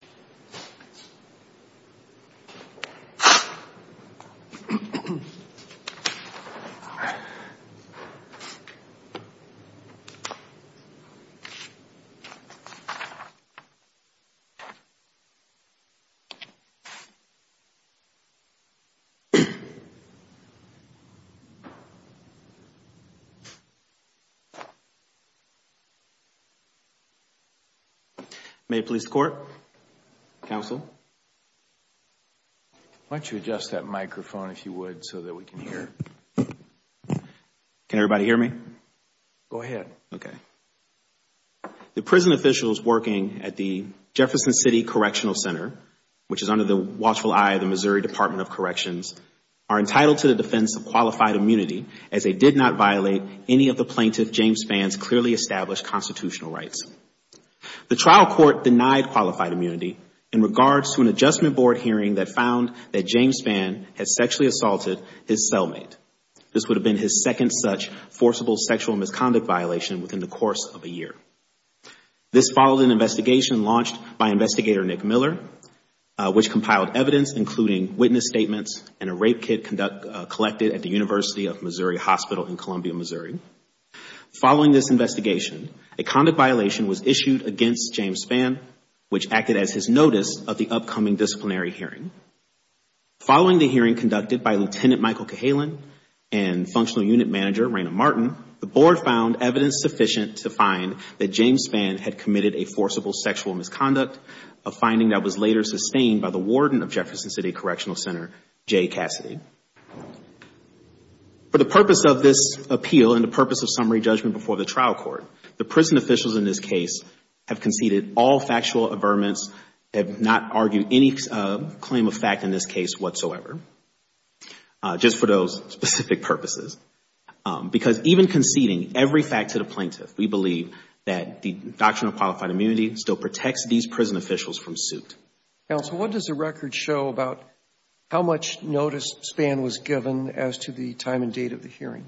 George Lombardi v. George Lombardi George Lombardi v. George Lombardi Can everybody hear me? Go ahead. Okay. The prison officials working at the Jefferson City Correctional Center, which is under the watchful eye of the Missouri Department of Corrections, are entitled to the defense of qualified immunity as they did not violate any of the plaintiff James Spann's clearly established constitutional rights. The trial court denied qualified immunity in regards to an adjustment board hearing that found that James Spann had sexually assaulted his cellmate. This would have been his second such forcible sexual misconduct violation within the course of a year. This followed an investigation launched by investigator Nick Miller, which compiled evidence including witness statements and a rape kit collected at the University of Missouri Hospital in Columbia, Missouri. Following this investigation, a conduct violation was issued against James Spann, which acted as his notice of the upcoming disciplinary hearing. Following the hearing conducted by Lieutenant Michael Cahalan and Functional Unit Manager Raina Martin, the board found evidence sufficient to find that James Spann had committed a forcible sexual misconduct, a finding that was later sustained by the warden of Jefferson City Correctional Center, Jay Cassidy. For the purpose of this appeal and the purpose of summary judgment before the trial court, the prison officials in this case have conceded all factual averments, have not argued any claim of fact in this case whatsoever, just for those specific purposes. Because even conceding every fact to the plaintiff, we believe that the doctrine of qualified immunity still protects these prison officials from suit. Counsel, what does the record show about how much notice Spann was given as to the time and date of the hearing?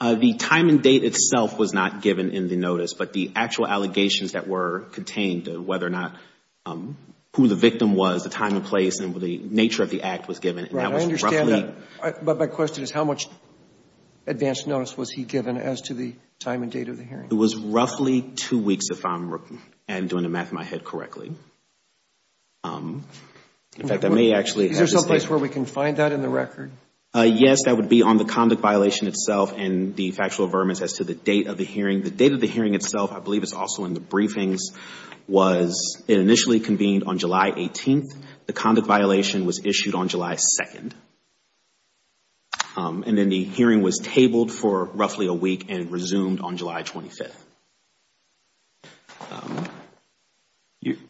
The time and date itself was not given in the notice, but the actual allegations that were contained, whether or not who the victim was, the time and place, and the nature of the act was given. And that was roughly – Right. I understand that. But my question is how much advance notice was he given as to the time and date of the hearing? It was roughly two weeks, if I'm doing the math in my head correctly. In fact, I may actually – Is there someplace where we can find that in the record? Yes. That would be on the conduct violation itself and the factual averments as to the date of the hearing. The date of the hearing itself, I believe it's also in the briefings, was it initially convened on July 18th. The conduct violation was issued on July 2nd. And then the hearing was tabled for roughly a week and resumed on July 25th.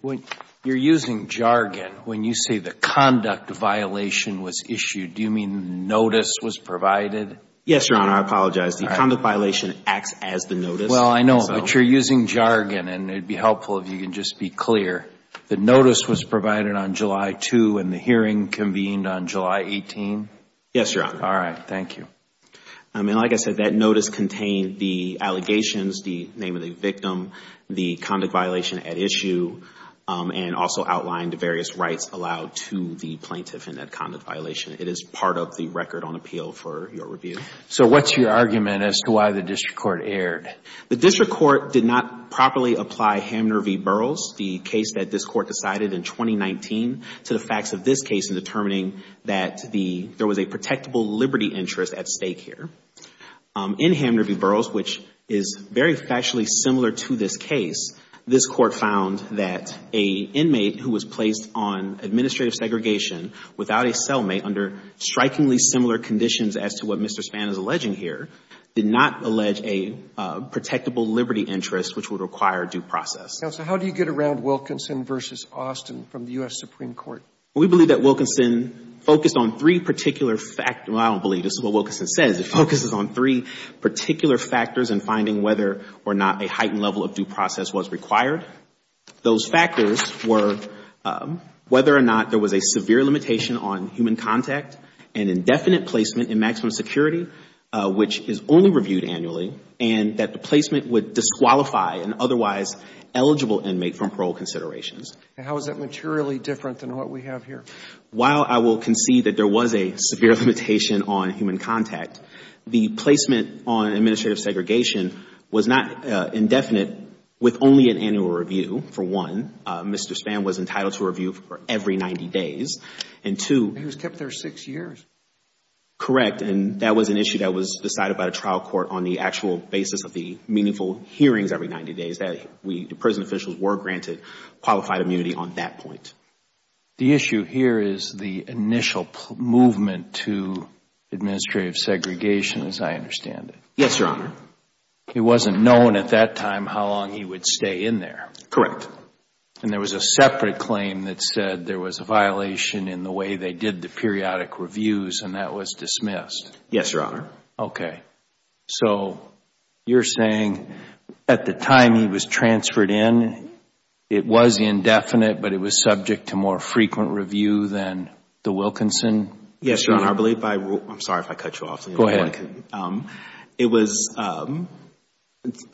When you're using jargon, when you say the conduct violation was issued, do you mean notice was provided? Yes, Your Honor. I apologize. The conduct violation acts as the notice. Well, I know. But you're using jargon. And it would be helpful if you could just be clear. The notice was provided on July 2 and the hearing convened on July 18? Yes, Your Honor. All right. Thank you. And like I said, that notice contained the allegations, the name of the victim, the conduct violation at issue, and also outlined various rights allowed to the plaintiff in that conduct violation. It is part of the record on appeal for your review. So what's your argument as to why the district court erred? The district court did not properly apply Hamner v. Burroughs, the case that this court decided in 2019, to the facts of this case in determining that there was a protectable liberty interest at stake here. In Hamner v. Burroughs, which is very factually similar to this case, this court found that an inmate who was placed on administrative segregation without a cellmate under strikingly similar conditions as to what Mr. Spann is alleging here did not allege a protectable liberty interest which would require due process. Counsel, how do you get around Wilkinson v. Austin from the U.S. Supreme Court? We believe that Wilkinson focused on three particular factors. Well, I don't believe this is what Wilkinson says. It focuses on three particular factors in finding whether or not a heightened level of due process was required. Those factors were whether or not there was a severe limitation on human contact and indefinite placement in maximum security, which is only reviewed annually, and that the placement would disqualify an otherwise eligible inmate from parole considerations. And how is that materially different than what we have here? While I will concede that there was a severe limitation on human contact, the placement on administrative segregation was not indefinite with only an annual review, for one. Mr. Spann was entitled to a review for every 90 days. And two. He was kept there six years. Correct. And that was an issue that was decided by the trial court on the actual basis of the meaningful hearings every 90 days. The prison officials were granted qualified immunity on that point. The issue here is the initial movement to administrative segregation as I understand it. Yes, Your Honor. It wasn't known at that time how long he would stay in there. Correct. And there was a separate claim that said there was a violation in the way they did the periodic reviews and that was dismissed. Yes, Your Honor. Okay. So you're saying at the time he was transferred in, it was indefinite but it was subject to more frequent review than the Wilkinson? Yes, Your Honor. I believe by rule. I'm sorry if I cut you off. Go ahead. It was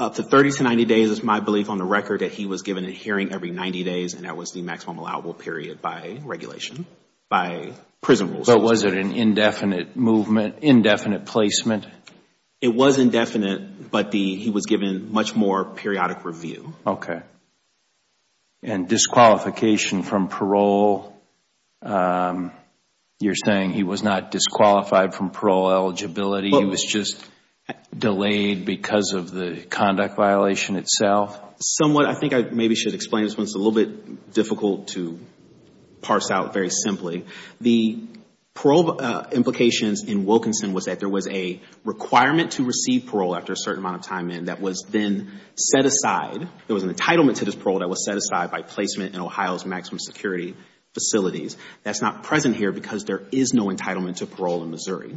up to 30 to 90 days is my belief on the record that he was given a hearing every 90 days and that was the maximum allowable period by regulation, by prison rules. But was it an indefinite movement, indefinite placement? It was indefinite but he was given much more periodic review. Okay. And disqualification from parole, you're saying he was not disqualified from parole eligibility, he was just delayed because of the conduct violation itself? Somewhat. I think I maybe should explain this one. It's a little bit difficult to parse out very simply. The parole implications in Wilkinson was that there was a requirement to receive parole after a certain amount of time in that was then set aside. There was an entitlement to this parole that was set aside by placement in Ohio's maximum security facilities. That's not present here because there is no entitlement to parole in Missouri.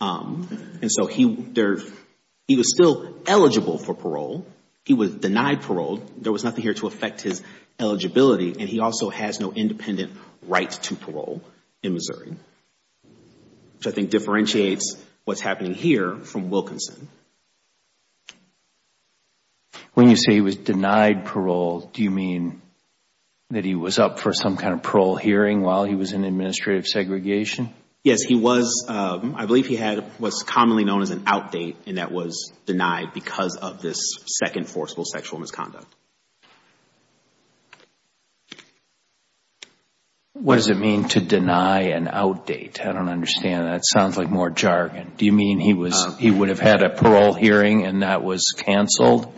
And so he was still eligible for parole. He was denied parole. There was nothing here to affect his eligibility and he also has no independent right to parole in Missouri, which I think differentiates what's happening here from Wilkinson. When you say he was denied parole, do you mean that he was up for some kind of parole hearing while he was in administrative segregation? Yes, he was. I believe he was commonly known as an outdate and that was denied because of this second forcible sexual misconduct. What does it mean to deny an outdate? I don't understand. That sounds like more jargon. Do you mean he would have had a parole hearing and that was canceled?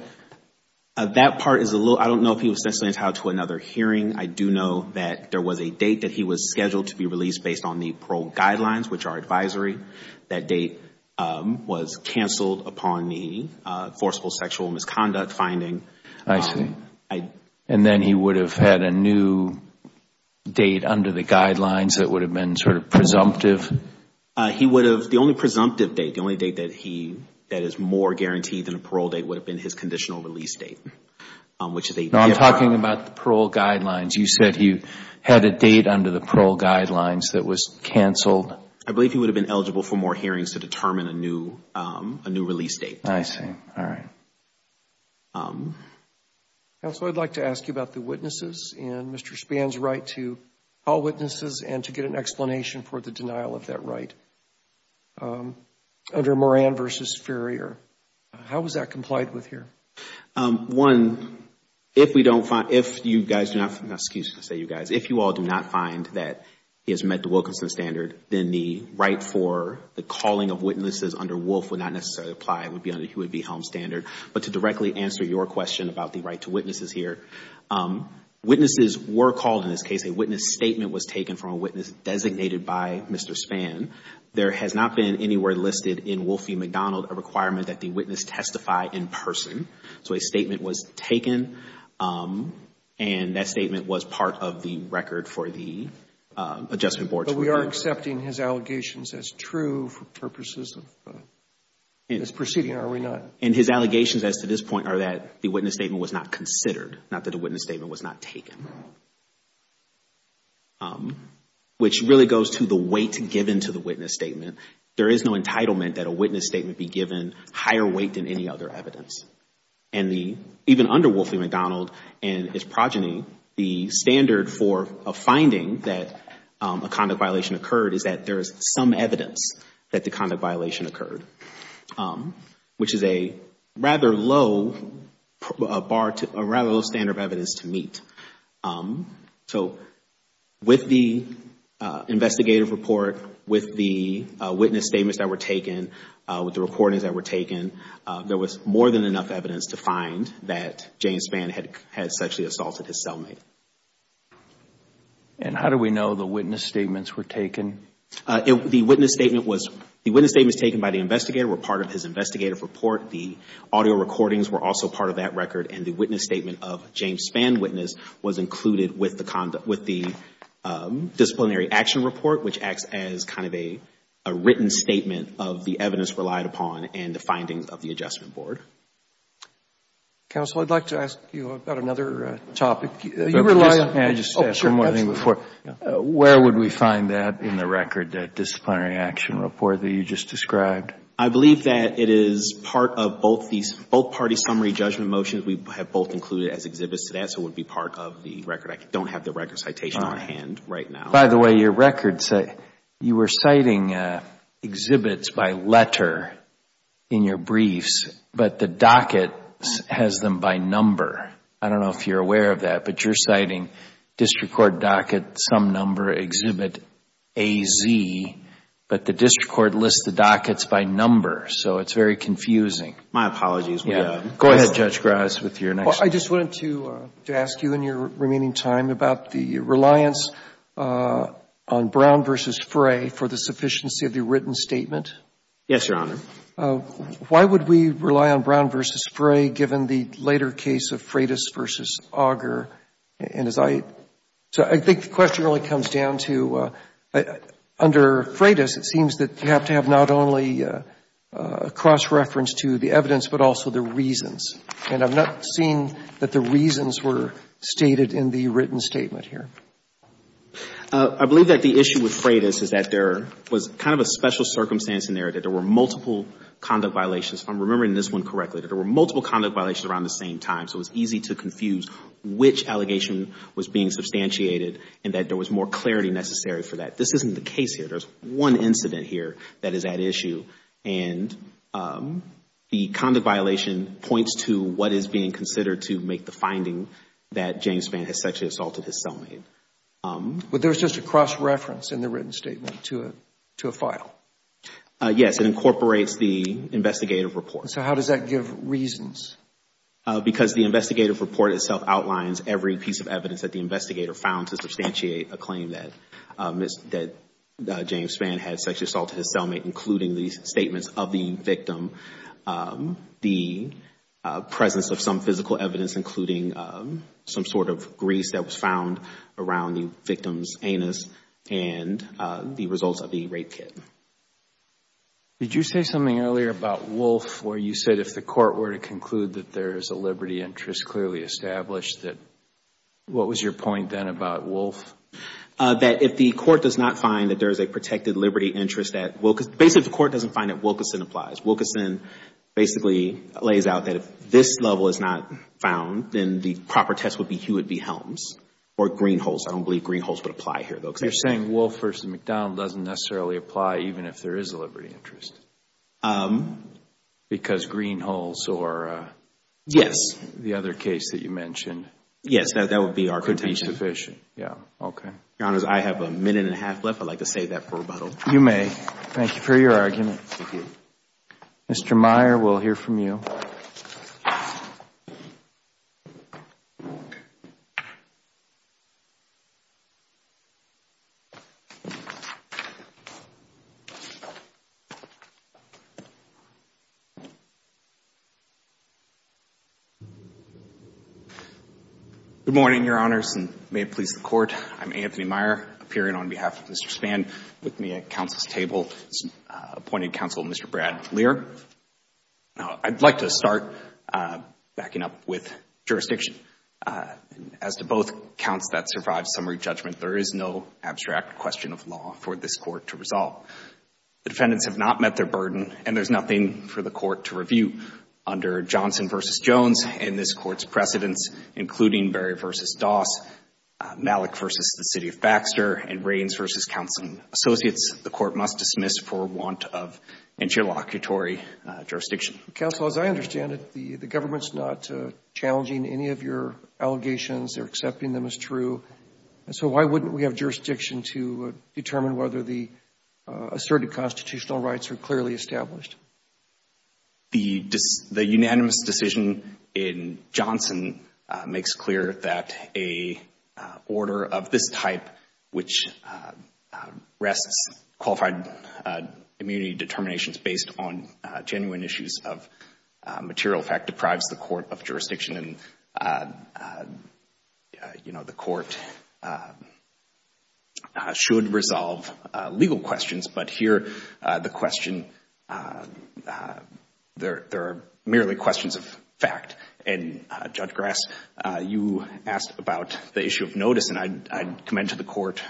That part is a little, I don't know if he was necessarily entitled to another hearing. I do know that there was a date that he was scheduled to be released based on the parole guidelines, which are advisory. That date was canceled upon the forcible sexual misconduct finding. I see. And then he would have had a new date under the guidelines that would have been sort of presumptive? He would have, the only presumptive date, the only date that is more guaranteed than a parole date would have been his conditional release date. I'm talking about the parole guidelines. You said he had a date under the parole guidelines that was canceled. I believe he would have been eligible for more hearings to determine a new release date. I see. All right. Counsel, I'd like to ask you about the witnesses and Mr. Spann's right to call witnesses and to get an explanation for the denial of that right under Moran v. Ferrier. How is that complied with here? One, if you all do not find that he has met the Wilkinson standard, then the right for the calling of witnesses under Wolf would not necessarily apply. It would be under the Helms standard. But to directly answer your question about the right to witnesses here, witnesses were called in this case. A witness statement was taken from a witness designated by Mr. Spann. There has not been anywhere listed in Wolf v. McDonald a requirement that the witness testify in person. So a statement was taken, and that statement was part of the record for the Adjustment Committee. So we are accepting his allegations as true for purposes of this proceeding, are we not? And his allegations as to this point are that the witness statement was not considered, not that a witness statement was not taken, which really goes to the weight given to the witness statement. There is no entitlement that a witness statement be given higher weight than any other evidence. And even under Wolf v. McDonald and its progeny, the standard for a finding that a conduct violation occurred is that there is some evidence that the conduct violation occurred, which is a rather low standard of evidence to meet. So with the investigative report, with the witness statements that were taken, with the recordings that were taken, there was more than enough evidence to find that James Spann had sexually assaulted his cellmate. And how do we know the witness statements were taken? The witness statements taken by the investigator were part of his investigative report. The audio recordings were also part of that record. And the witness statement of James Spann witness was included with the disciplinary action report, which acts as kind of a written statement of the evidence relied upon and the findings of the Adjustment Board. Counsel, I'd like to ask you about another topic. Can I just ask one more thing before? Where would we find that in the record, that disciplinary action report that you just described? I believe that it is part of both these, both party summary judgment motions we have both included as exhibits today, so it would be part of the record. I don't have the record citation on hand right now. By the way, your records, you were citing exhibits by letter in your briefs, but the docket has them by number. I don't know if you're aware of that, but you're citing district court docket, some number, exhibit AZ, but the district court lists the dockets by number, so it's very confusing. My apologies. Go ahead, Judge Graz, with your next question. I just wanted to ask you in your remaining time about the reliance on Brown v. Fray for the sufficiency of the written statement. Yes, Your Honor. Why would we rely on Brown v. Fray given the later case of Freitas v. Auger? And as I — so I think the question really comes down to, under Freitas, it seems that you have to have not only a cross-reference to the evidence, but also the reasons. And I've not seen that the reasons were stated in the written statement here. I believe that the issue with Freitas is that there was kind of a special circumstance in there, that there were multiple conduct violations. If I'm remembering this one correctly, that there were multiple conduct violations around the same time, so it was easy to confuse which allegation was being substantiated and that there was more clarity necessary for that. This isn't the case here. There's one incident here that is at issue. And the conduct violation points to what is being considered to make the finding that James Fann has sexually assaulted his cellmate. But there's just a cross-reference in the written statement to a file. Yes. It incorporates the investigative report. So how does that give reasons? Because the investigative report itself outlines every piece of evidence that the investigator found to substantiate a claim that James Fann had sexually assaulted his cellmate, including the statements of the victim, the presence of some physical evidence, including some sort of grease that was found around the victim's anus, and the results of the rape kit. Did you say something earlier about Wolfe where you said if the court were to conclude that there is a liberty interest clearly established, what was your point then about Wolfe? That if the court does not find that there is a protected liberty interest, basically the court doesn't find that Wilkerson applies. Wilkerson basically lays out that if this level is not found, then the proper test would be Hewitt v. Helms or Greenholz. I don't believe Greenholz would apply here, though. You're saying Wolfe v. McDowell doesn't necessarily apply even if there is a liberty interest? Because Greenholz or the other case that you mentioned could be sufficient? Yes, that would be our contention. Your Honor, I have a minute and a half left. I would like to save that for rebuttal. You may. Thank you for your argument. Thank you. Mr. Meyer, we will hear from you. Good morning, Your Honors, and may it please the Court. I'm Anthony Meyer, appearing on behalf of Mr. Spann. With me at counsel's table is appointed counsel, Mr. Brad Lear. Now, I'd like to start backing up with jurisdiction. As to both counts that survive summary judgment, there is no abstract question of law for this court to resolve. The defendants have not met their burden, and there's nothing for the court to review. Under Johnson v. Jones and this court's precedents, including Berry v. Doss, Malik v. The City of Baxter, and Rains v. Counsel and Associates, the court must dismiss for want of interlocutory jurisdiction. Counsel, as I understand it, the government's not challenging any of your allegations. They're accepting them as true. So why wouldn't we have jurisdiction to determine whether the asserted constitutional rights are clearly established? The unanimous decision in Johnson makes clear that a order of this type, which rests qualified immunity determinations based on genuine issues of material effect, deprives the court of jurisdiction. And the court should resolve legal questions. But here, the question, there are merely questions of fact. And Judge Grass, you asked about the issue of notice. And I commend to the court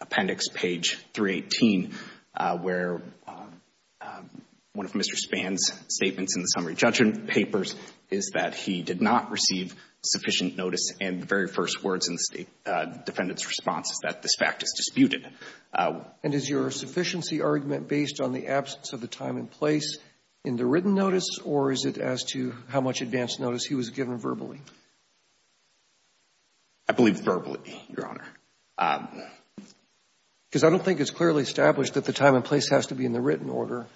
Appendix page 318, where one of Mr. Spann's statements in the summary judgment papers is that he did not receive sufficient notice. And the very first words in the defendant's response is that this fact is disputed. And is your sufficiency argument based on the absence of the time and place in the written notice, or is it as to how much advance notice he was given verbally? I believe verbally, Your Honor. Because I don't think it's clearly established that the time and place has to be in the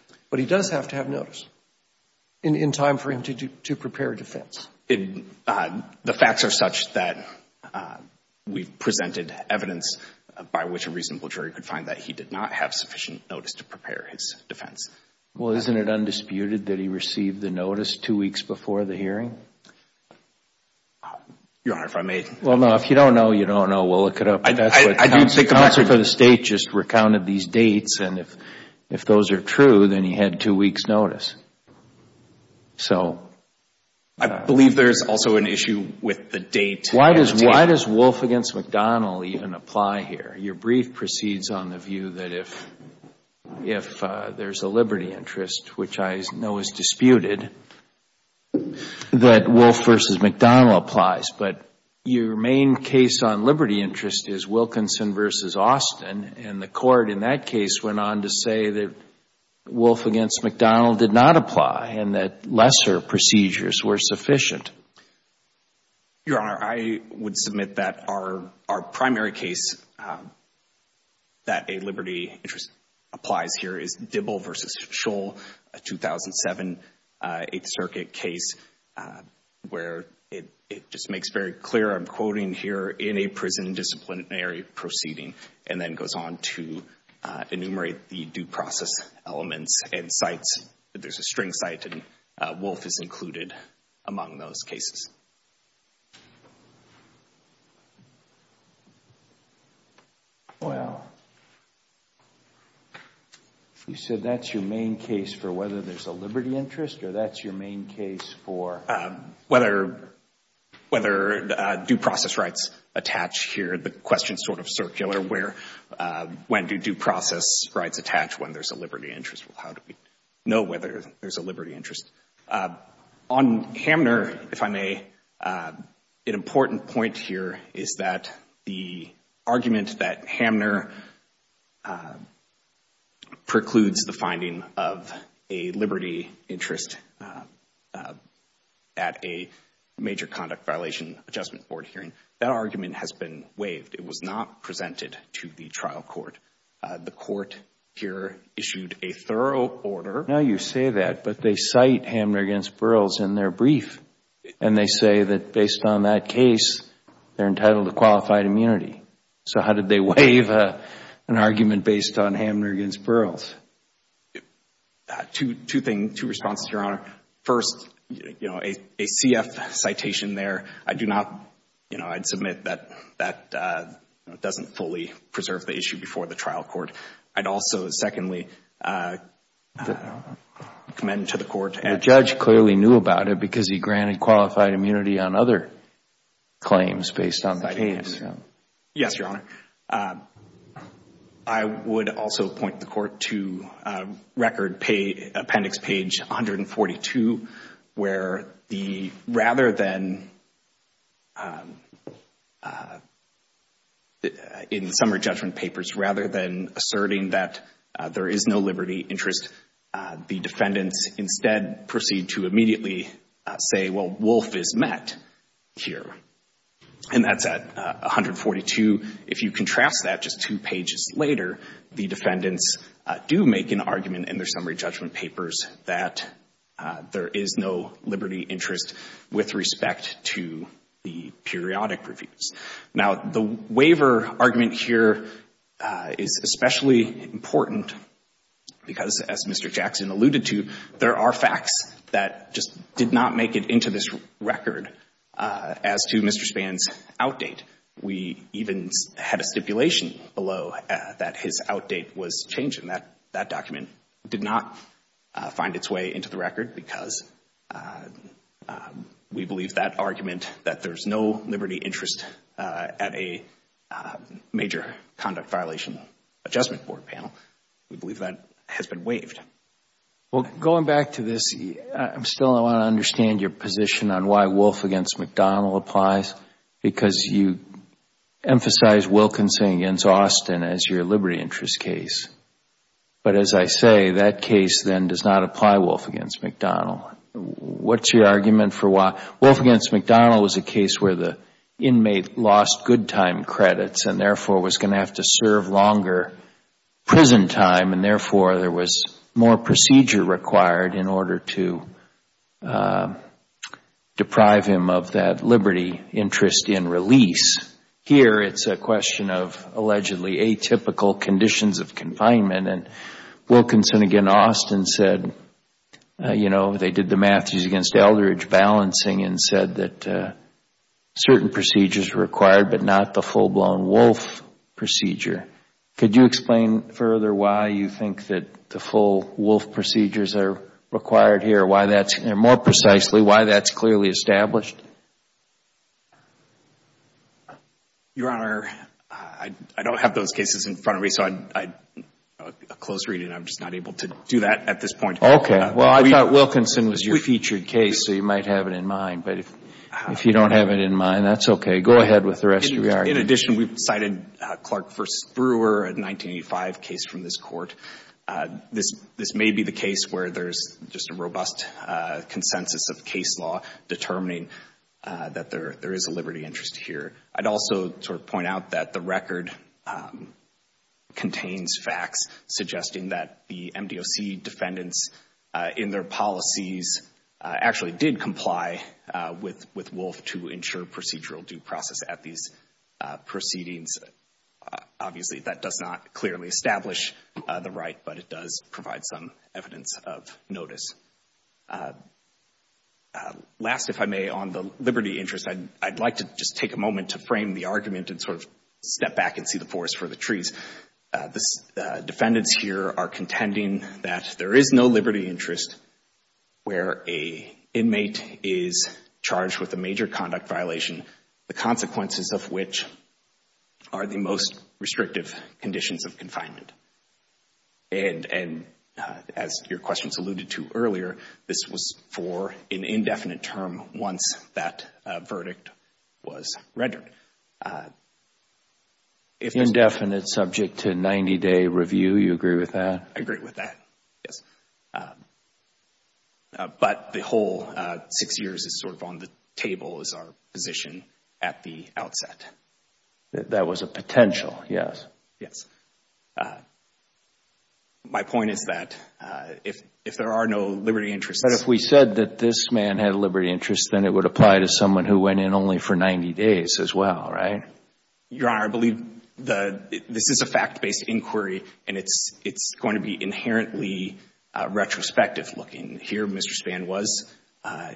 time for him to prepare defense. The facts are such that we've presented evidence by which a reasonable jury could find that he did not have sufficient notice to prepare his defense. Well, isn't it undisputed that he received the notice two weeks before the hearing? Your Honor, if I may. Well, no. If you don't know, you don't know. We'll look it up. That's what Johnson for the State just recounted these dates. And if those are true, then he had two weeks' notice. I believe there's also an issue with the date. Why does Wolfe v. McDonnell even apply here? Your brief proceeds on the view that if there's a liberty interest, which I know is disputed, that Wolfe v. McDonnell applies. But your main case on liberty interest is Wilkinson v. Austin. And the court in that case went on to say that Wolfe v. McDonnell did not apply and that lesser procedures were sufficient. Your Honor, I would submit that our primary case that a liberty interest applies here is Dibble v. Scholl, a 2007 Eighth Circuit case where it just makes very clear, I'm quoting here, in a prison disciplinary proceeding, and then goes on to enumerate the due process elements and sites. There's a string site and Wolfe is included among those cases. Well, you said that's your main case for whether there's a liberty interest, or that's your main case for... Whether due process rights attach here. The question is sort of circular. When do due process rights attach when there's a liberty interest? How do we know whether there's a liberty interest? On Hamner, if I may, an important point here is that the argument that Hamner precludes is the finding of a liberty interest at a major conduct violation adjustment board hearing. That argument has been waived. It was not presented to the trial court. The court here issued a thorough order... Now you say that, but they cite Hamner v. Burroughs in their brief, and they say that based on that case, they're entitled to qualified immunity. So how did they waive an argument based on Hamner v. Burroughs? Two responses, Your Honor. First, a CF citation there, I do not... I'd submit that that doesn't fully preserve the issue before the trial court. I'd also, secondly, commend to the court... The judge clearly knew about it because he granted qualified immunity on other claims based on the case. Yes, Your Honor. I would also point the court to appendix page 142, where the rather than... in the summary judgment papers, rather than asserting that there is no liberty interest, the defendants instead proceed to immediately say, well, Wolf is met here. And that's at 142. If you contrast that just two pages later, the defendants do make an argument in their summary judgment papers that there is no liberty interest with respect to the periodic reviews. Now, the waiver argument here is especially important because, as Mr. Jackson alluded to, there are facts that just did not make it into this record as to Mr. Spann's outdate. We even had a stipulation below that his outdate was changed, and that document did not find its way into the record because we believe that argument, that there is no liberty interest at a major conduct violation adjustment board panel, we believe that has been waived. Well, going back to this, I still want to understand your position on why Wolf against McDonnell applies because you emphasize Wilkinson against Austin as your liberty interest case. But as I say, that case then does not apply Wolf against McDonnell. What's your argument for why? Wolf against McDonnell was a case where the inmate lost good time credits and therefore was going to have to serve longer prison time, and therefore there was more procedure required in order to deprive him of that liberty interest in release. Here it's a question of allegedly atypical conditions of confinement, and Wilkinson against Austin said, you know, they did the Matthews against Eldridge balancing and said that certain procedures were required but not the full-blown Wolf procedure. Could you explain further why you think that the full Wolf procedures are required here? More precisely, why that's clearly established? Your Honor, I don't have those cases in front of me, so a close reading, I'm just not able to do that at this point. Okay. Well, I thought Wilkinson was your featured case, so you might have it in mind. But if you don't have it in mind, that's okay. Go ahead with the rest of your argument. In addition, we've cited Clark v. Brewer, a 1985 case from this Court. This may be the case where there's just a robust consensus of case law determining that there is a liberty interest here. I'd also sort of point out that the record contains facts suggesting that the MDOC defendants in their policies actually did comply with Wolf to ensure procedural due process at these proceedings. Obviously, that does not clearly establish the right, but it does provide some evidence of notice. Last, if I may, on the liberty interest, I'd like to just take a moment to frame the argument and sort of step back and see the forest for the trees. The defendants here are contending that there is no liberty interest where an inmate is charged with a major conduct violation, the consequences of which are the most restrictive conditions of confinement. And as your questions alluded to earlier, this was for an indefinite term once that verdict was rendered. Indefinite, subject to 90-day review. You agree with that? I agree with that, yes. But the whole six years is sort of on the table as our position at the outset. That was a potential, yes. Yes. My point is that if there are no liberty interests— But if we said that this man had a liberty interest, then it would apply to someone who went in only for 90 days as well, right? Your Honor, I believe this is a fact-based inquiry, and it's going to be inherently retrospective looking. Here, Mr. Spann was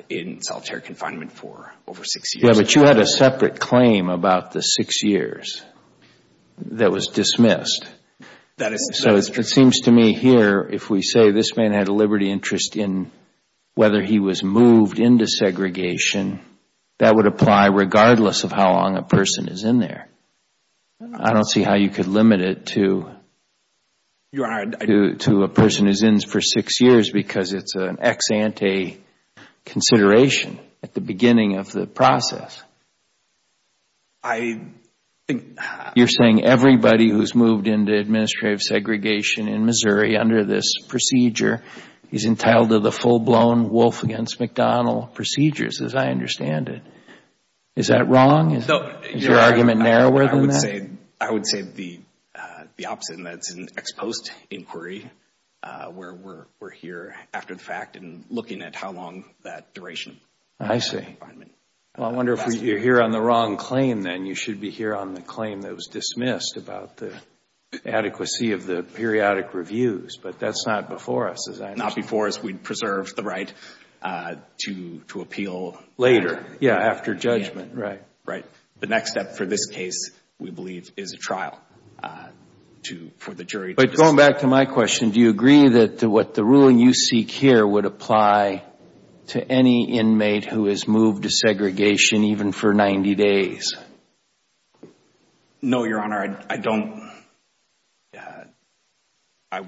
in solitary confinement for over six years. Yes, but you had a separate claim about the six years that was dismissed. So it seems to me here, if we say this man had a liberty interest in whether he was moved into segregation, that would apply regardless of how long a person is in there. I don't see how you could limit it to a person who's in for six years because it's an ex ante consideration at the beginning of the process. You're saying everybody who's moved into administrative segregation in Missouri under this procedure is entitled to the full-blown Wolf v. McDonnell procedures, as I understand it. Is that wrong? Is your argument narrower than that? I would say the opposite, and that's an ex post inquiry, where we're here after the fact and looking at how long that duration of confinement I see. Well, I wonder if you're here on the wrong claim, then. You should be here on the claim that was dismissed about the adequacy of the periodic reviews, but that's not before us, as I understand it. Not before us. We'd preserve the right to appeal later. Yeah, after judgment. Right. The next step for this case, we believe, is a trial for the jury. But going back to my question, do you agree that what the ruling you seek here would apply to any inmate who has moved to segregation even for 90 days? No, Your Honor. I don't. I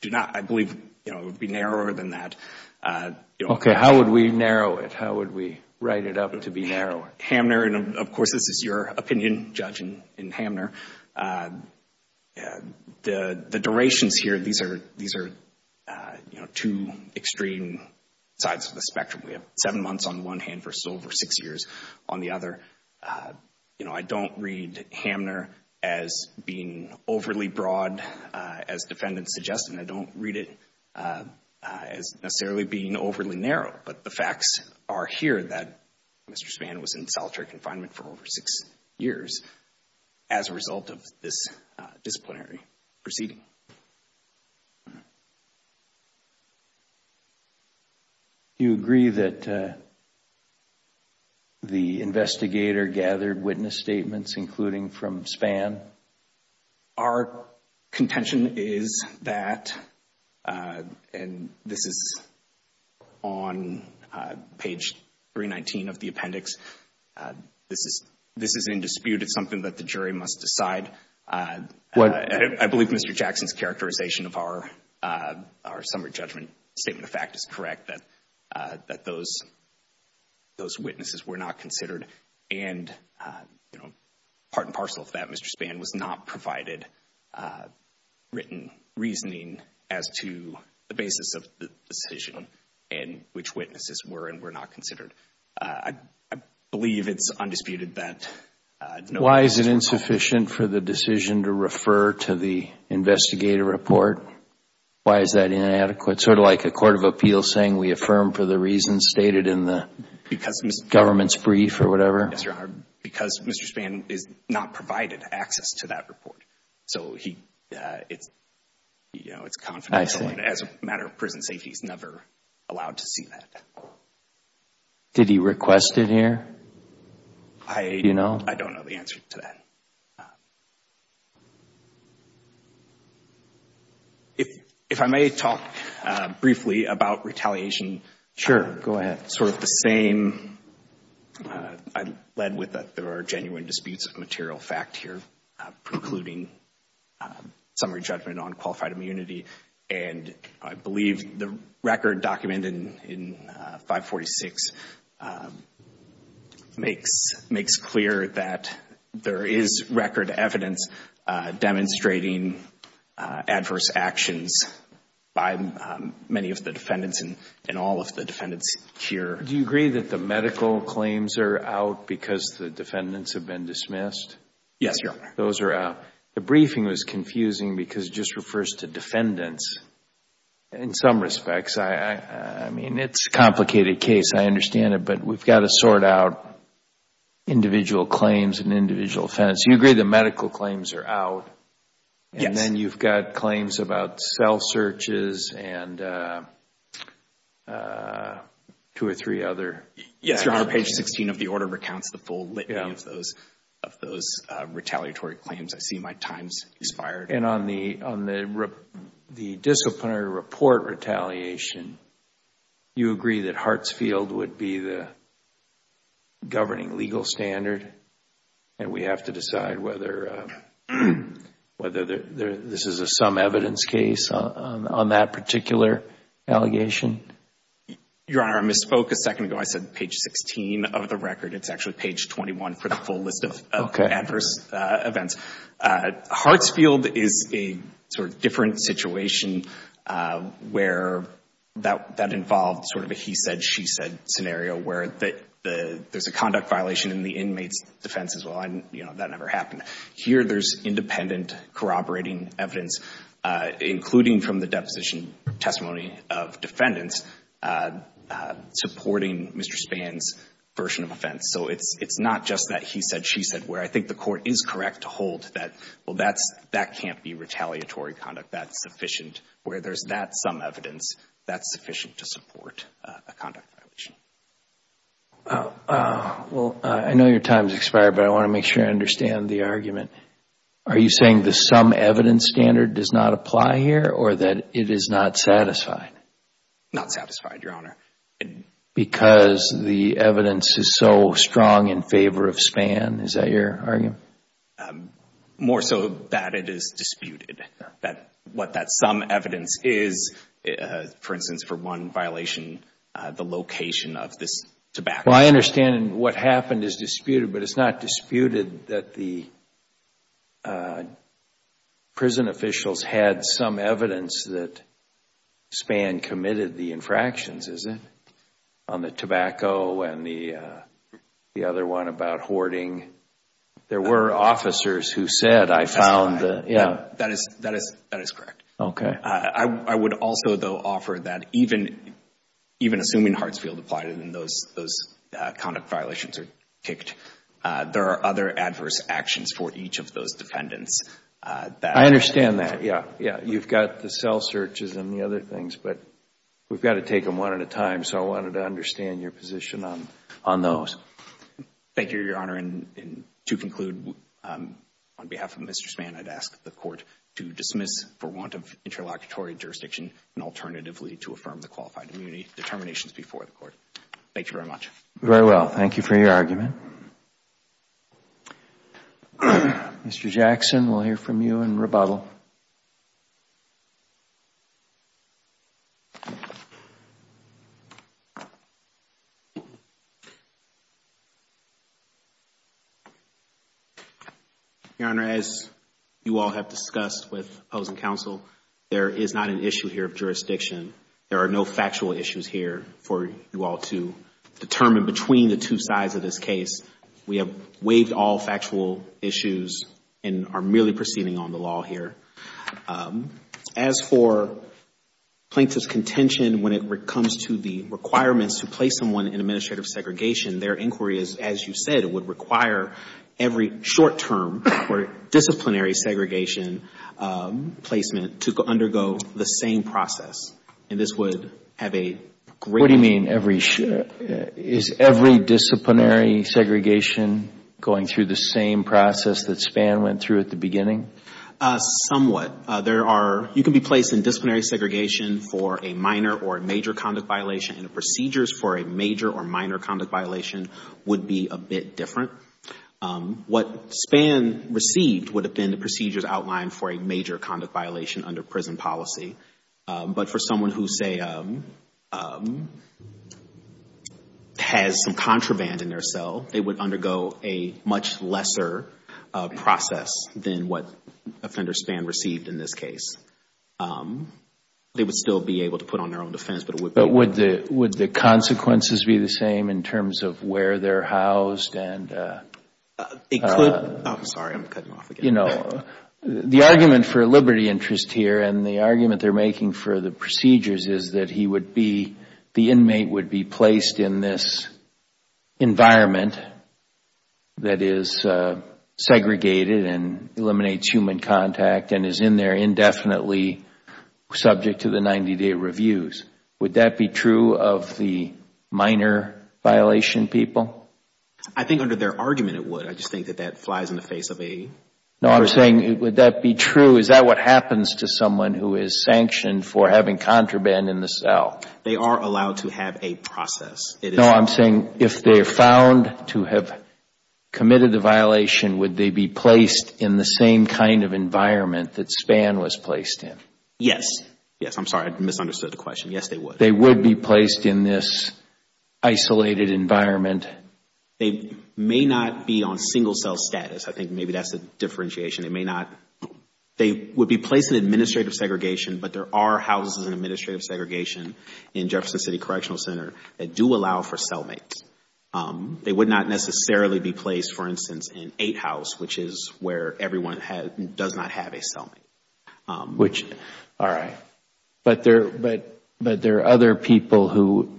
do not. I believe it would be narrower than that. Okay. How would we narrow it? How would we write it up to be narrower? Hamner, and, of course, this is your opinion, Judge, in Hamner. The durations here, these are two extreme sides of the spectrum. We have seven months on one hand versus over six years on the other. You know, I don't read Hamner as being overly broad, as defendants suggest, and I don't read it as necessarily being overly narrow. But the facts are here that Mr. Spann was in solitary confinement for over six years as a result of this disciplinary proceeding. Thank you. Do you agree that the investigator gathered witness statements, including from Spann? Our contention is that, and this is on page 319 of the appendix, this is in dispute. It's something that the jury must decide. I believe Mr. Jackson's characterization of our summary judgment statement of fact is correct, that those witnesses were not considered. And, you know, part and parcel of that, Mr. Spann, was not provided written reasoning as to the basis of the decision and which witnesses were and were not considered. Why is it insufficient for the decision to refer to the investigator report? Why is that inadequate? Sort of like a court of appeals saying we affirm for the reasons stated in the government's brief or whatever? Because Mr. Spann is not provided access to that report. So he, you know, it's confidential. And as a matter of prison safety, he's never allowed to see that. Did he request it here? Do you know? I don't know the answer to that. If I may talk briefly about retaliation. Sure, go ahead. Sort of the same, I'm led with that there are genuine disputes of material fact here, precluding summary judgment on qualified immunity. And I believe the record documented in 546 makes clear that there is record evidence demonstrating adverse actions by many of the defendants and all of the defendants here. Do you agree that the medical claims are out because the defendants have been dismissed? Yes, Your Honor. The briefing was confusing because it just refers to defendants in some respects. I mean, it's a complicated case. I understand it. But we've got to sort out individual claims and individual defendants. Do you agree the medical claims are out? Yes. And then you've got claims about cell searches and two or three other. Yes, Your Honor. Page 16 of the order recounts the full list of those retaliatory claims. I see my time has expired. And on the disciplinary report retaliation, you agree that Hartsfield would be the governing legal standard and we have to decide whether this is a some evidence case on that particular allegation? Your Honor, I misspoke a second ago. I said page 16 of the record. It's actually page 21 for the full list of adverse events. Okay. Hartsfield is a sort of different situation where that involves sort of a he said, she said scenario where there's a conduct violation in the inmate's defense as well. That never happened. Here there's independent corroborating evidence, including from the deposition testimony of defendants, supporting Mr. Spann's version of offense. So it's not just that he said, she said, where I think the court is correct to hold that, well, that can't be retaliatory conduct. That's sufficient. Where there's that some evidence, that's sufficient to support a conduct violation. Well, I know your time has expired, but I want to make sure I understand the argument. Are you saying the some evidence standard does not apply here or that it is not satisfied? Not satisfied, Your Honor. Because the evidence is so strong in favor of Spann. Is that your argument? More so that it is disputed. That what that some evidence is, for instance, for one violation, the location of this tobacco. Well, I understand what happened is disputed, but it's not disputed that the prison officials had some evidence that Spann committed the infractions, is it? On the tobacco and the other one about hoarding. There were officers who said, I found the, yeah. That is correct. Okay. I would also, though, offer that even assuming Hartsfield applied it and those conduct violations are kicked, there are other adverse actions for each of those defendants. I understand that, yeah. You've got the cell searches and the other things, but we've got to take them one at a time. So I wanted to understand your position on those. Thank you, Your Honor. To conclude, on behalf of Mr. Spann, I'd ask the Court to dismiss for want of interlocutory jurisdiction and alternatively to affirm the qualified immunity determinations before the Court. Thank you very much. Very well. Thank you for your argument. Mr. Jackson, we'll hear from you in rebuttal. Your Honor, as you all have discussed with opposing counsel, there is not an issue here of jurisdiction. There are no factual issues here for you all to determine between the two sides of this case. We have waived all factual issues and are merely proceeding on the law here. As for plaintiff's contention when it comes to the requirements to place someone in administrative segregation, their inquiry is, as you said, it would require every short term for disciplinary segregation placement to undergo the same process. And this would have a great What do you mean every short term? Is every disciplinary segregation going through the same process that Spann went through at the beginning? Somewhat. There are, you can be placed in disciplinary segregation for a minor or major conduct violation and the procedures for a major or minor conduct violation would be a bit different. What Spann received would have been the procedures outlined for a major conduct violation under prison policy. But for someone who, say, has some contraband in their cell, they would undergo a much lesser process than what offender Spann received in this case. They would still be able to put on their own defense, but it would be Would the consequences be the same in terms of where they are housed? I'm sorry, I'm cutting off again. You know, the argument for liberty interest here and the argument they are making for the procedures is that he would be, the inmate would be placed in this environment that is segregated and eliminates human contact and is in there indefinitely subject to the 90 day reviews. Would that be true of the minor violation people? I think under their argument it would. I just think that that flies in the face of a No, I'm saying would that be true? Is that what happens to someone who is sanctioned for having contraband in the cell? They are allowed to have a process. No, I'm saying if they are found to have committed a violation, would they be placed in the same kind of environment that Spann was placed in? Yes. Yes, I'm sorry. I misunderstood the question. Yes, they would. They would be placed in this isolated environment. They may not be on single cell status. I think maybe that's the differentiation. They may not. They would be placed in administrative segregation, but there are houses in administrative segregation in Jefferson City Correctional Center that do allow for cellmates. They would not necessarily be placed, for instance, in eight house, which is where everyone does not have a cellmate. All right. But there are other people who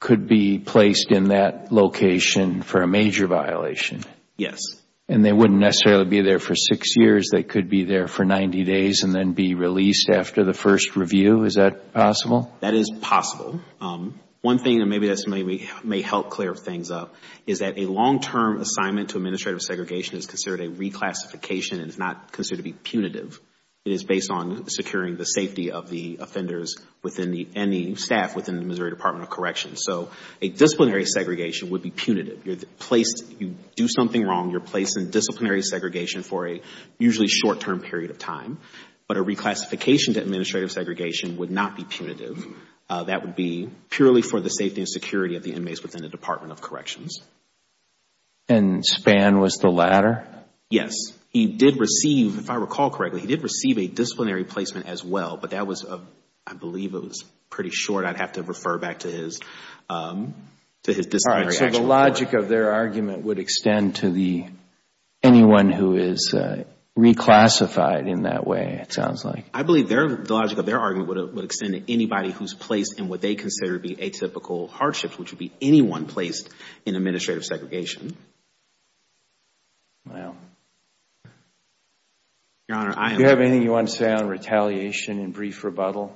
could be placed in that location for a major violation. Yes. And they wouldn't necessarily be there for six years. They could be there for 90 days and then be released after the first review. Is that possible? That is possible. One thing, and maybe this may help clear things up, is that a long-term assignment to administrative segregation is considered a reclassification and is not considered to be punitive. It is based on securing the safety of the offenders and the staff within the Missouri Department of Corrections. So a disciplinary segregation would be punitive. You do something wrong, you're placed in disciplinary segregation for a usually short-term period of time. But a reclassification to administrative segregation would not be punitive. That would be purely for the safety and security of the inmates within the Department of Corrections. And Spann was the latter? Yes. He did receive, if I recall correctly, he did receive a disciplinary placement as well. But that was, I believe it was pretty short. I would have to refer back to his disciplinary action report. All right. So the logic of their argument would extend to anyone who is reclassified in that way, it sounds like. I believe the logic of their argument would extend to anybody who is placed in what they consider to be atypical hardships, which would be anyone placed in administrative segregation. Wow. Do you have anything you want to say on retaliation and brief rebuttal?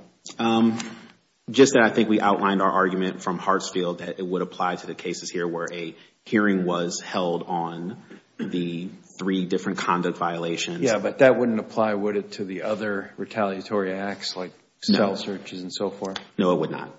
Just that I think we outlined our argument from Hartsfield that it would apply to the cases here where a hearing was held on the three different conduct violations. Yes, but that wouldn't apply, would it, to the other retaliatory acts like cell searches and so forth? No, it would not.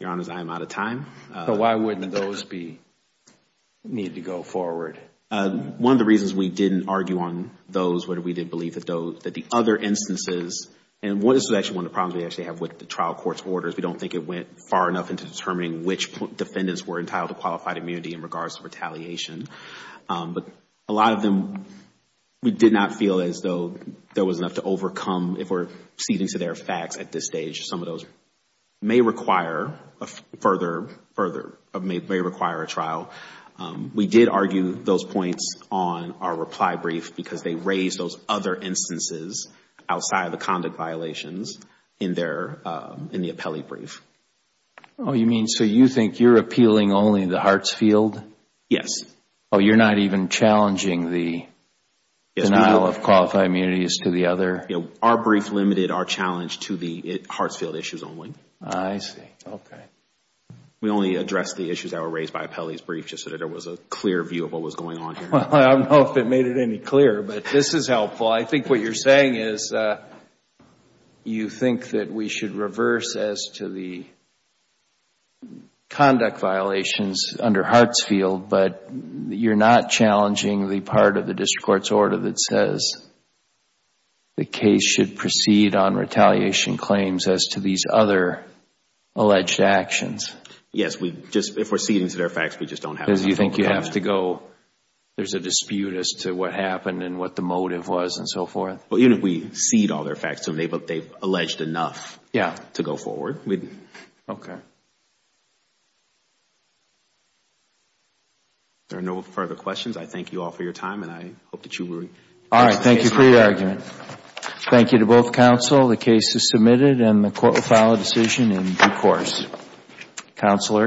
Your Honor, I am out of time. But why wouldn't those need to go forward? One of the reasons we didn't argue on those was we didn't believe that the other instances, and this is actually one of the problems we actually have with the trial court's orders, we don't think it went far enough into determining which defendants were entitled to qualified immunity in regards to retaliation. But a lot of them, we did not feel as though there was enough to overcome, if we're ceding to their facts at this stage, some of those may require a further, may require a trial. We did argue those points on our reply brief because they raised those other instances outside the conduct violations in the appellee brief. Oh, you mean, so you think you're appealing only to Hartsfield? Yes. Oh, you're not even challenging the denial of qualified immunities to the other? Our brief limited our challenge to the Hartsfield issues only. I see. Okay. We only addressed the issues that were raised by appellee's brief just so that there was a clear view of what was going on here. I don't know if it made it any clearer, but this is helpful. I think what you're saying is you think that we should reverse as to the conduct violations under Hartsfield, but you're not challenging the part of the district court's order that says the case should proceed on retaliation claims as to these other alleged actions. Yes. If we're ceding to their facts, we just don't have enough. Because you think you have to go, there's a dispute as to what happened and what the motive was and so forth? Even if we cede all their facts to them, they've alleged enough to go forward. Okay. If there are no further questions, I thank you all for your time and I hope that you will. All right. Thank you for your argument. Thank you to both counsel. The case is submitted and the court will file a decision in due course. Counselor.